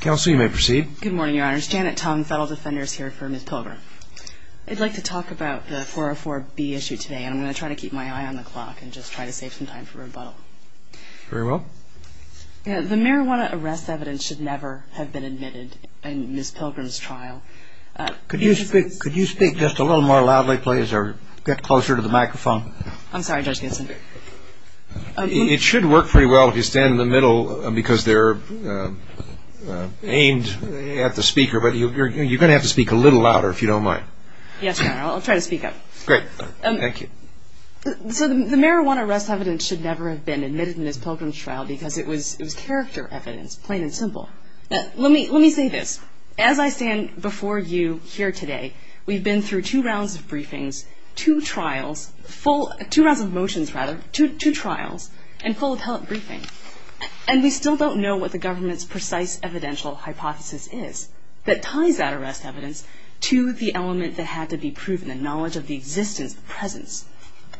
counsel you may proceed good morning your honors Janet Tong federal defenders here for Miss Pilgrim I'd like to talk about the 404 B issue today I'm going to try to keep my eye on the clock and just try to save some time for rebuttal very well the marijuana arrest evidence should never have been admitted in Miss Pilgrim's trial could you speak could you speak just a little more loudly please or get closer to the microphone I'm sorry judge Ginson it should work pretty well if you stand in the middle because they're aimed at the speaker but you're gonna have to speak a little louder if you don't mind yes I'll try to speak up great thank you so the marijuana arrest evidence should never have been admitted in this Pilgrim's trial because it was it was character evidence plain and simple let me let me say this as I stand before you here today we've been through two rounds of briefings two trials full two rounds of two trials and full appellate briefing and we still don't know what the government's precise evidential hypothesis is that ties that arrest evidence to the element that had to be proven the knowledge of the existence presence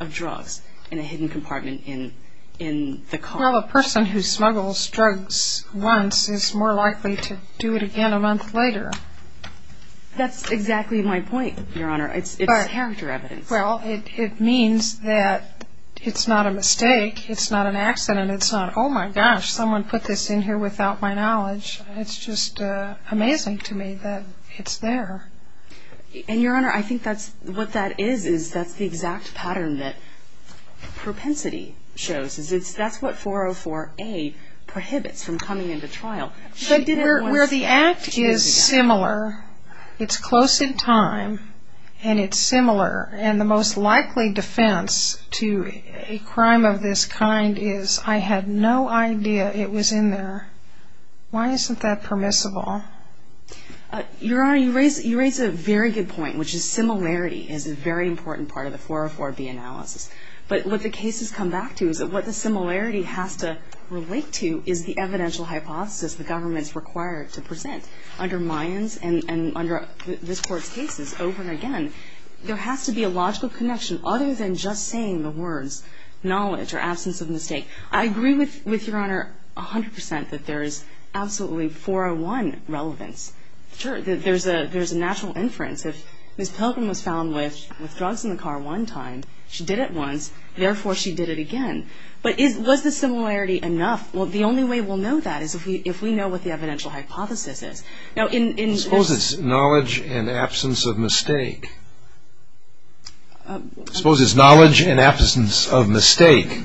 of drugs in a hidden compartment in in the car a person who smuggles drugs once is more likely to do it again a month later that's exactly my point your honor it's a character evidence well it means that it's not a mistake it's not an accident it's not oh my gosh someone put this in here without my knowledge it's just amazing to me that it's there and your honor I think that's what that is is that's the exact pattern that propensity shows is it's that's what 404 a prohibits from coming into trial she did it where the act is similar it's close in time and it's similar and the most likely defense to a crime of this kind is I had no idea it was in there why isn't that permissible your honor you raise you raise a very good point which is similarity is a very important part of the 404 B analysis but what the case has come back to is that what the similarity has to relate to is the evidential hypothesis the government's required to present under Mayans and under this court's cases over and again there has to be a logical connection other than just saying the words knowledge or absence of mistake I agree with with your honor a hundred percent that there is absolutely 401 relevance sure that there's a there's a natural inference if miss Pilgrim was found with with drugs in the car one time she did it once therefore she did it again but is was the similarity enough well the only way we'll know that is if we if we know what the evidential hypothesis is now in in suppose it's knowledge and absence of mistake suppose it's knowledge and absence of mistake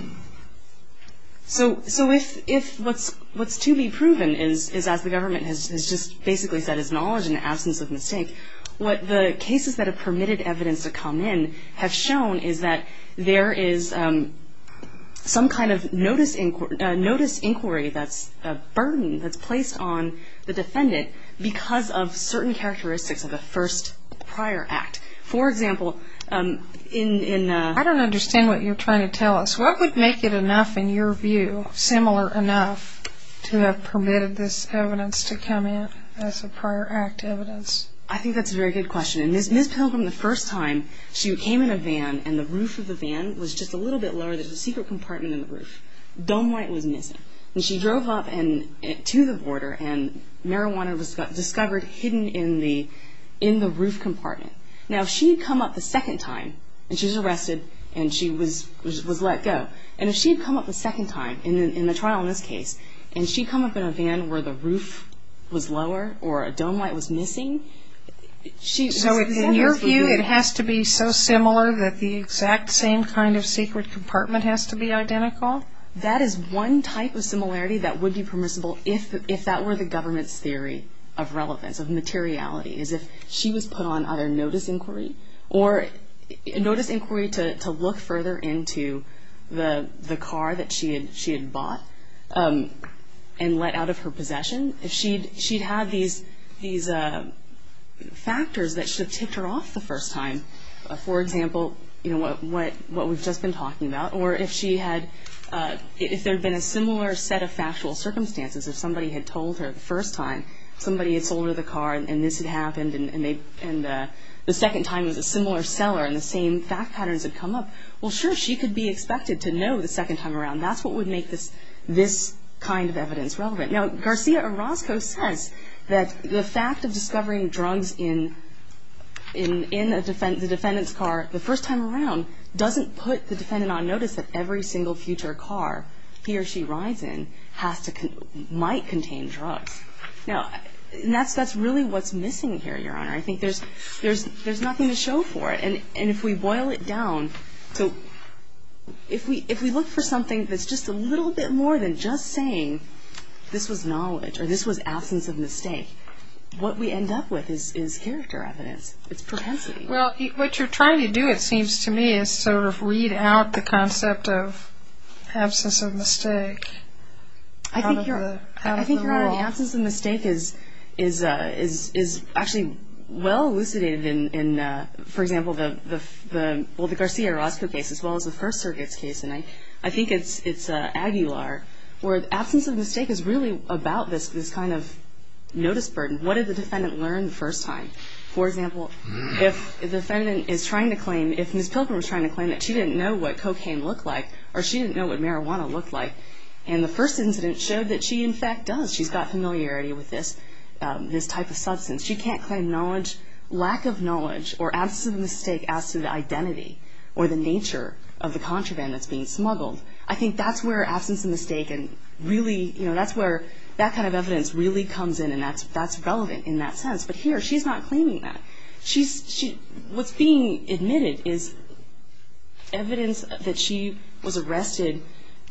so so if if what's what's to be proven is is as the government has just basically said is knowledge and absence of mistake what the cases that have permitted evidence to come in have shown is that there is some kind of notice in court notice inquiry that's a burden that's placed on the defendant because of certain characteristics of the first prior act for example in I don't understand what you're trying to tell us what would make it enough in your view similar enough to have permitted this evidence to come in as a prior act evidence I think that's a very good question and this miss Pilgrim the first time she came in a van and the roof of the van was just a little bit lower there's a secret compartment in the roof dome white was missing and she drove up and to the border and marijuana was discovered hidden in the in the roof compartment now she'd come up the second time and she's arrested and she was was let go and if she'd come up the second time in the trial in this case and she'd come up in a van where the roof was lower or a dome light was missing she so in your view it has to be so similar that the exact same kind of secret compartment has to be identical that is one type of similarity that would be permissible if if that were the government's theory of relevance of materiality is if she was put on either notice inquiry or notice inquiry to look further into the the car that she had she had bought and let out of her possession if she'd she'd have these these factors that should have ticked her off the first time for example you know what what what we've just been talking about or if she had if there'd been a similar set of factual circumstances if somebody had told her the first time somebody had sold her the car and this had happened and they and the second time was a similar seller and the same fact patterns had come up well sure she could be expected to know the second time around that's what would make this this kind of evidence relevant now Garcia Orozco says that the fact of discovering drugs in in in a defense the defendant's car the first time around doesn't put the defendant on notice that every single future car he or she rides in has to might contain drugs now that's that's really what's missing here your honor I think there's there's there's nothing to show for it and and if we boil it down so if we if we look for something that's just a little bit more than just saying this was knowledge or this was absence of mistake what we end up with is is character evidence it's propensity well what you're trying to do it seems to me is sort of weed out the concept of absence of mistake I think your absence of mistake is is is is actually well elucidated in in for example the the well the Garcia Orozco case as well as the First Circuit's case and I I think it's it's a Aguilar where the absence of mistake is really about this this kind of notice burden what did the defendant learn the first time for defendant is trying to claim if miss Pilgrim was trying to claim that she didn't know what cocaine looked like or she didn't know what marijuana looked like and the first incident showed that she in fact does she's got familiarity with this this type of substance she can't claim knowledge lack of knowledge or absence of mistake as to the identity or the nature of the contraband that's being smuggled I think that's where absence of mistake and really you know that's where that kind of evidence really comes in and that's that's not claiming that she's she was being admitted is evidence that she was arrested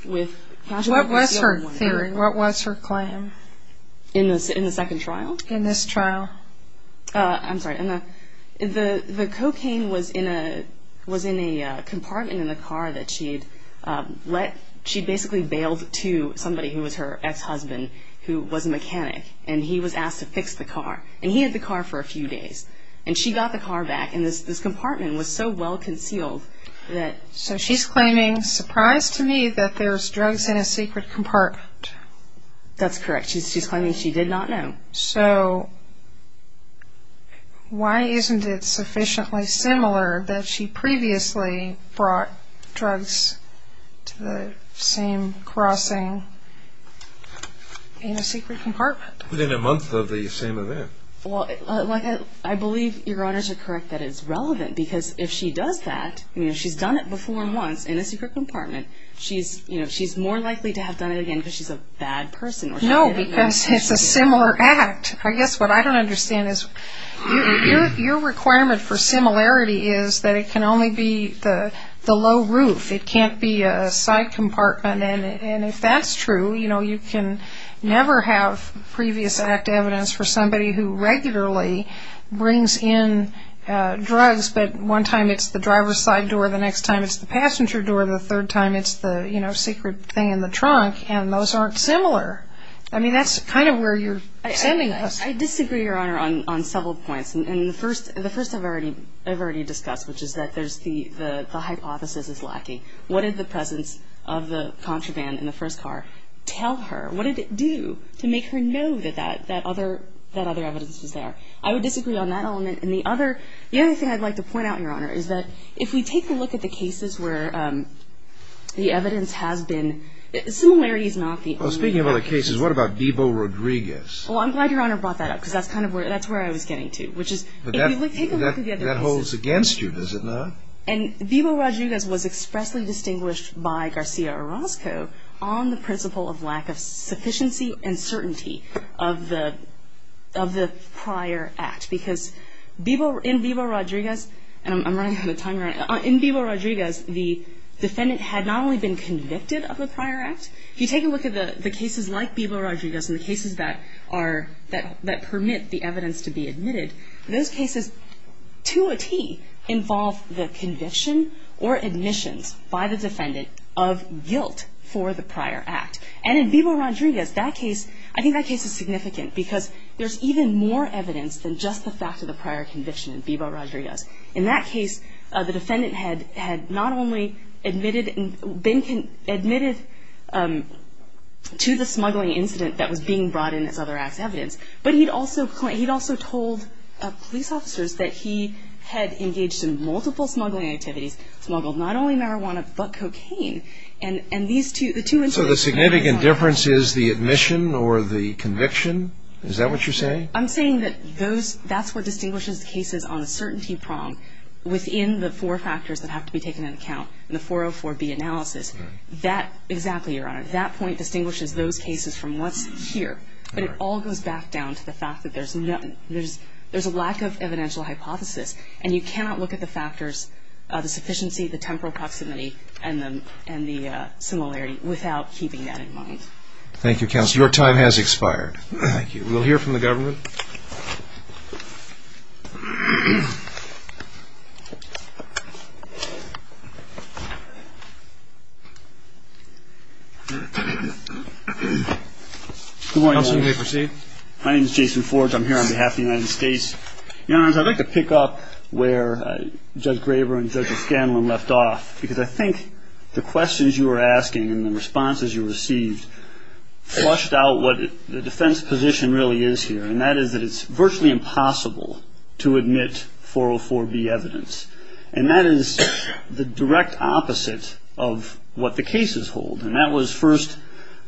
with what was her theory what was her claim in this in the second trial in this trial I'm sorry in the the the cocaine was in a was in a compartment in the car that she'd let she basically bailed to somebody who was her ex-husband who was a mechanic and he was asked to fix the car and he had the car for a few days and she got the car back in this this compartment was so well concealed that so she's claiming surprised to me that there's drugs in a secret compartment that's correct she's claiming she did not know so why isn't it sufficiently similar that she previously brought drugs to the same crossing in a secret compartment within a month of the same event well I believe your honors are correct that is relevant because if she does that you know she's done it before once in a secret compartment she's you know she's more likely to have done it again because she's a bad person no because it's a similar act I guess what I don't understand is your requirement for similarity is that it can only be the the low roof it can't be a side compartment and if that's true you know you can never have previous act evidence for somebody who regularly brings in drugs but one time it's the driver's side door the next time it's the passenger door the third time it's the you know secret thing in the trunk and those aren't similar I mean that's kind of where you're sending us I disagree your honor on on several points and the first and the first I've already I've already discussed which is that there's the the hypothesis is lacking what is the presence of the contraband in the first car tell her what did it do to make her know that that that other that other evidence is there I would disagree on that element and the other the other thing I'd like to point out your honor is that if we take a look at the cases where the evidence has been similarities not the speaking of other cases what about Vivo Rodriguez well I'm glad your honor brought that up because that's kind of where that's where I was getting to which is that holds against you does and Vivo Rodriguez was expressly distinguished by Garcia Orozco on the principle of lack of sufficiency and certainty of the of the prior act because people in Vivo Rodriguez and I'm running out of time right in Vivo Rodriguez the defendant had not only been convicted of the prior act if you take a look at the the cases like Vivo Rodriguez and the cases that are that permit the evidence to be admitted those cases to a T involve the conviction or admissions by the defendant of guilt for the prior act and in Vivo Rodriguez that case I think that case is significant because there's even more evidence than just the fact of the prior conviction in Vivo Rodriguez in that case the defendant had had not only admitted and been admitted to the but he'd also he'd also told police officers that he had engaged in multiple smuggling activities smuggled not only marijuana but cocaine and and these two the two and so the significant difference is the admission or the conviction is that what you're saying I'm saying that those that's what distinguishes the cases on a certainty prong within the four factors that have to be taken into account in the 404 B analysis that exactly your honor that distinguishes those cases from what's here but it all goes back down to the fact that there's nothing there's there's a lack of evidential hypothesis and you cannot look at the factors the sufficiency the temporal proximity and them and the similarity without keeping that in mind Thank You counsel your time has expired thank you we'll hear from the government my name is Jason Forge I'm here on behalf the United States you know I'd like to pick up where judge Graber and judge Scanlon left off because I think the questions you were asking and the responses you received flushed out what the defense position really is here and that is that it's virtually impossible to admit 404 B evidence and that is the direct opposite of what the cases hold and that was first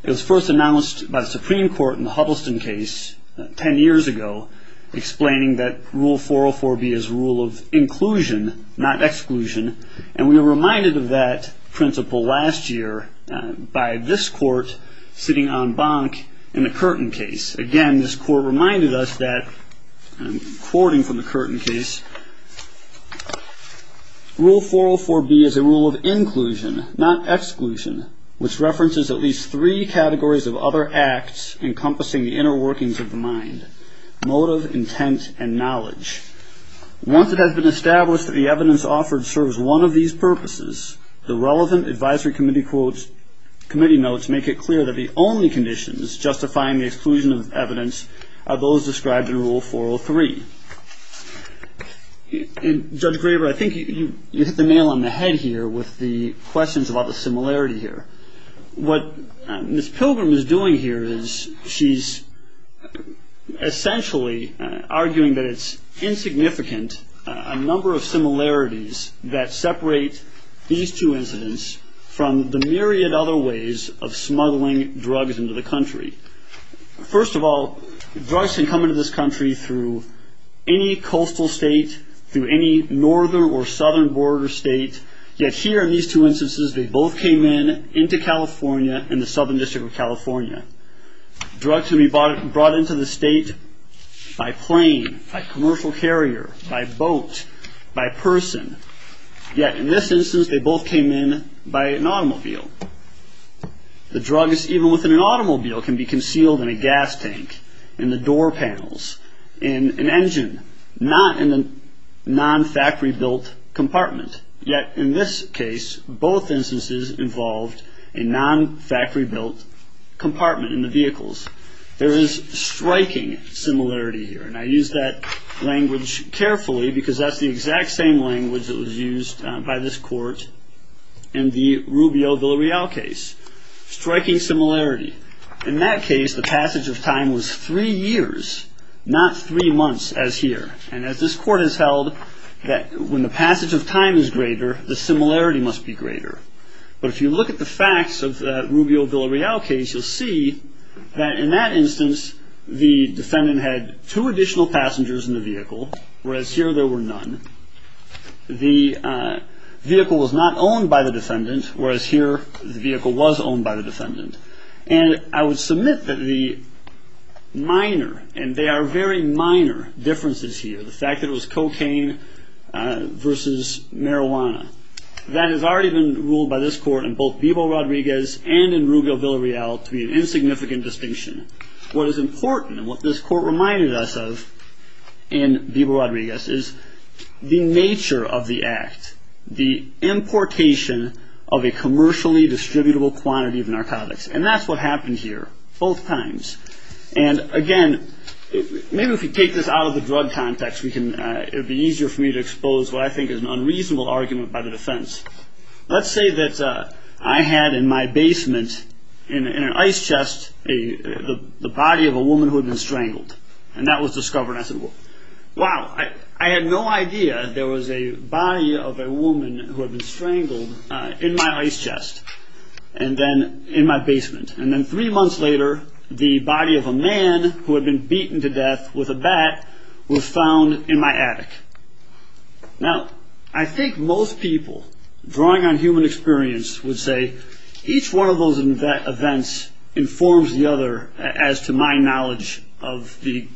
it was first announced by the Supreme Court in the Huddleston case ten years ago explaining that rule 404 B is rule of inclusion not exclusion and we were reminded of that principle last year by this court sitting on bonk in the curtain case again this court reminded us that according from the curtain case rule 404 B is a rule of inclusion not exclusion which references at least three categories of other acts encompassing the inner workings of the mind motive intent and knowledge once it has been established that the evidence offered serves one of these purposes the relevant Advisory Committee quotes committee notes make it clear that the only conditions justifying the exclusion of evidence are those described in rule 403 judge Graber I think you hit the nail on the head here with the questions about the similarity here what this pilgrim is doing here is she's essentially arguing that it's insignificant a number of similarities that separate these two incidents from the myriad other ways of smuggling drugs into the country first of all drugs can come into this country through any coastal state through any northern or southern border state yet here in these two instances they both came in into California in the Southern District of California drug to be bought and brought into the state by plane by commercial carrier by boat by person yet in this instance they both came in by an automobile the drug is even within an automobile can be concealed in a gas tank in the door panels in an engine not in the non factory-built compartment yet in this case both instances involved in non factory-built compartment in the vehicles there is striking similarity here and I use that language carefully because that's the exact same language that was used by this court in the Rubio Villarreal case striking similarity in that case the passage of time was three years not three months as here and as this court has held that when the similarity must be greater but if you look at the facts of the Rubio Villarreal case you'll see that in that instance the defendant had two additional passengers in the vehicle whereas here there were none the vehicle was not owned by the defendant whereas here the vehicle was owned by the defendant and I would submit that the minor and they are very minor differences here the fact that was cocaine versus marijuana that has already been ruled by this court in both Bebo Rodriguez and in Rubio Villarreal to be an insignificant distinction what is important and what this court reminded us of in Bebo Rodriguez is the nature of the act the importation of a commercially distributable quantity of narcotics and that's what happened here both times and again maybe if we take this out of the drug context it would be easier for me to expose what I think is an unreasonable argument by the defense let's say that I had in my basement in an ice chest the body of a woman who had been strangled and that was discovered I said wow I had no idea there was a body of a woman who had been strangled in my ice chest and then in my basement and then three months later the body of a man who had been beaten to death with a bat was found in my attic now I think most people drawing on human experience would say each one of those events informs the other as to my knowledge of the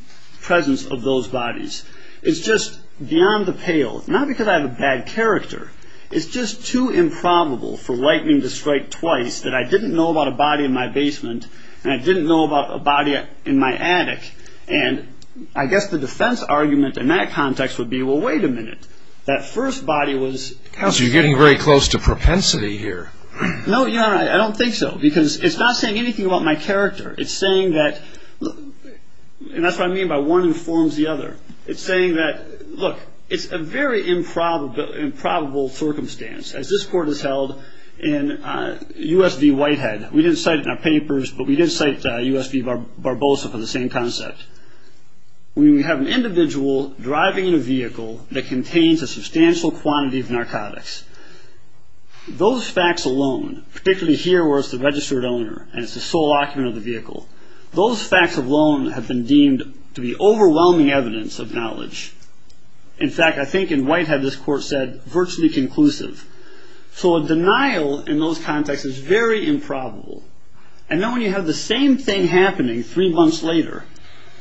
presence of those bodies it's just beyond the pale not because I have a bad character it's just too improbable for lightning to strike twice that I didn't know about a body in my basement and I didn't know about a body in my attic and I guess the defense argument in that context would be well wait a minute that first body was because you're getting very close to propensity here no yeah I don't think so because it's not saying anything about my character it's saying that and that's what I mean by one informs the other it's saying that look it's a very improbable improbable circumstance as this court is held in USD Whitehead we didn't cite in our papers but we didn't cite USB barbosa for the same concept we have an individual driving in a vehicle that contains a substantial quantity of narcotics those facts alone particularly here where it's the registered owner and it's the sole occupant of the vehicle those facts of loan have been deemed to be overwhelming evidence of knowledge in fact I think in Whitehead this court said virtually conclusive so a denial in those contexts is very improbable and then when you have the same thing happening three months later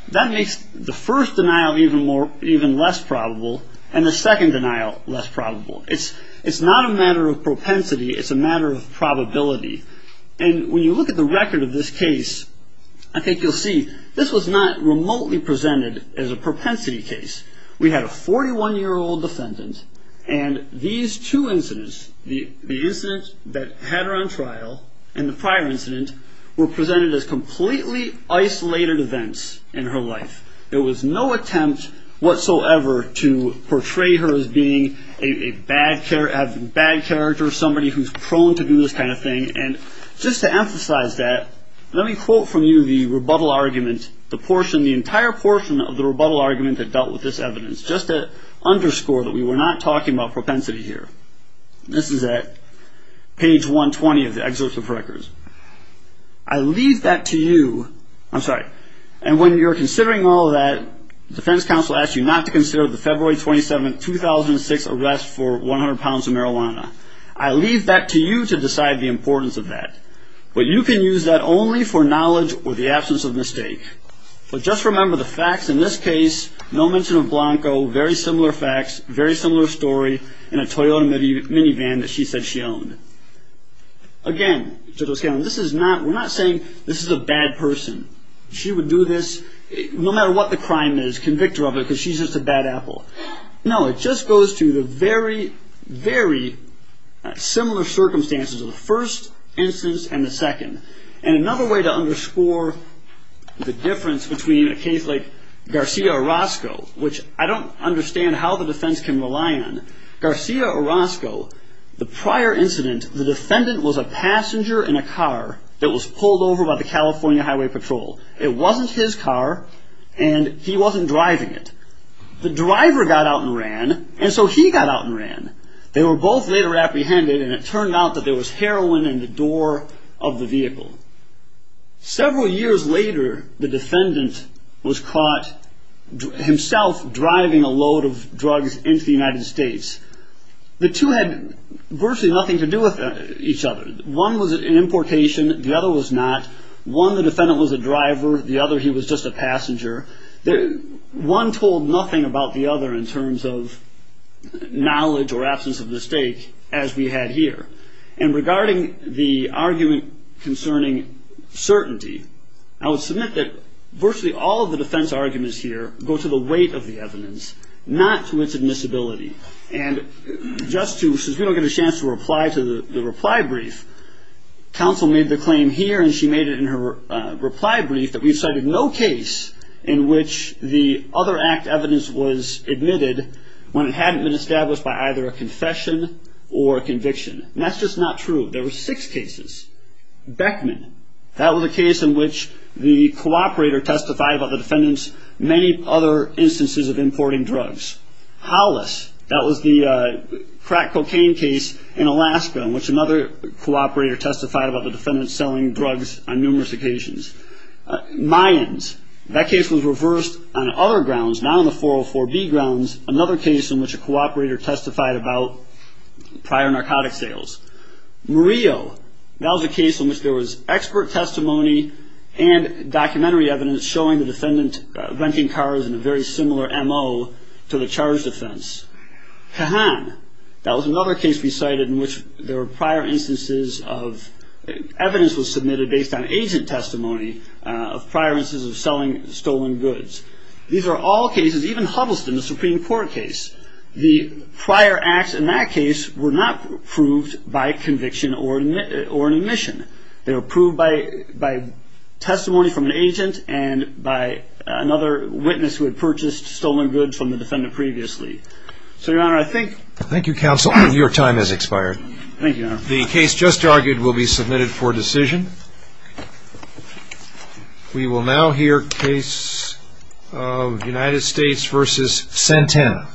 that makes the first denial even more even less probable and the second denial less probable it's it's not a matter of propensity it's a matter of probability and when you look at the record of this case I think you'll see this was not remotely presented as a propensity case we had a 41 year old defendant and these two incidents the incident that had her on trial and the prior incident were presented as completely isolated events in her life there was no attempt whatsoever to portray her as being a bad care of bad character somebody who's prone to do this kind of thing and just to emphasize that let me quote from you the rebuttal argument the portion the entire portion of the rebuttal argument that dealt with this evidence just to underscore that we were not talking about propensity here this is at page 120 of the excerpts of records I leave that to you I'm sorry and when you're considering all that defense counsel asked you not to consider the February 27 2006 arrest for 100 pounds of marijuana I leave that to you to decide the importance of that but you can use that only for knowledge or the absence of mistake but just remember the facts in this case no mention of Blanco very similar facts very similar story in a Toyota minivan that she said she owned again this is not we're not saying this is a bad person she would do this no matter what the crime is convict her of it because she's just a bad apple no it just goes to the very very similar circumstances of the first instance and the second and another way to underscore the difference between a case like Garcia Orozco which I don't understand how the defense can rely on Garcia Orozco the prior incident the defendant was a passenger in a car that was pulled over by the California Highway Patrol it wasn't his car and he wasn't driving it the driver got out and ran and so he got out and ran they were both later apprehended and it turned out that there was heroin in the door of the vehicle several years later the defendant was caught himself driving a load of drugs into the United States the two had virtually nothing to do with each other one was an importation the other was not one the defendant was a driver the other he was just a passenger there one told nothing about the other in terms of knowledge or absence of mistake as we had here and regarding the argument concerning certainty I would submit that virtually all of the defense arguments here go to the weight of the evidence not to its admissibility and just to since we don't get a chance to reply to the reply brief counsel made the claim here and she made it in her reply brief that we've cited no case in which the other act evidence was admitted when it hadn't been established by either a confession or conviction that's just not true there were six cases Beckman that was a case in which the cooperator testified by the defendants many other instances of importing drugs Hollis that was the crack cocaine case in Alaska in which another cooperator testified about the defendant selling drugs on numerous occasions Mayans that case was reversed on other grounds not on the 404 B grounds another case in which a that was a case in which there was expert testimony and documentary evidence showing the defendant renting cars in a very similar mo to the charge defense Kahan that was another case we cited in which there were prior instances of evidence was submitted based on agent testimony of prior instances of selling stolen goods these are all cases even Huddleston the Supreme Court case the prior acts in that case were not proved by conviction or admit or admission they were proved by by testimony from an agent and by another witness who had purchased stolen goods from the defendant previously so your honor I think thank you counsel your time has expired thank you the case just argued will be submitted for decision we will now hear case of United States versus Santana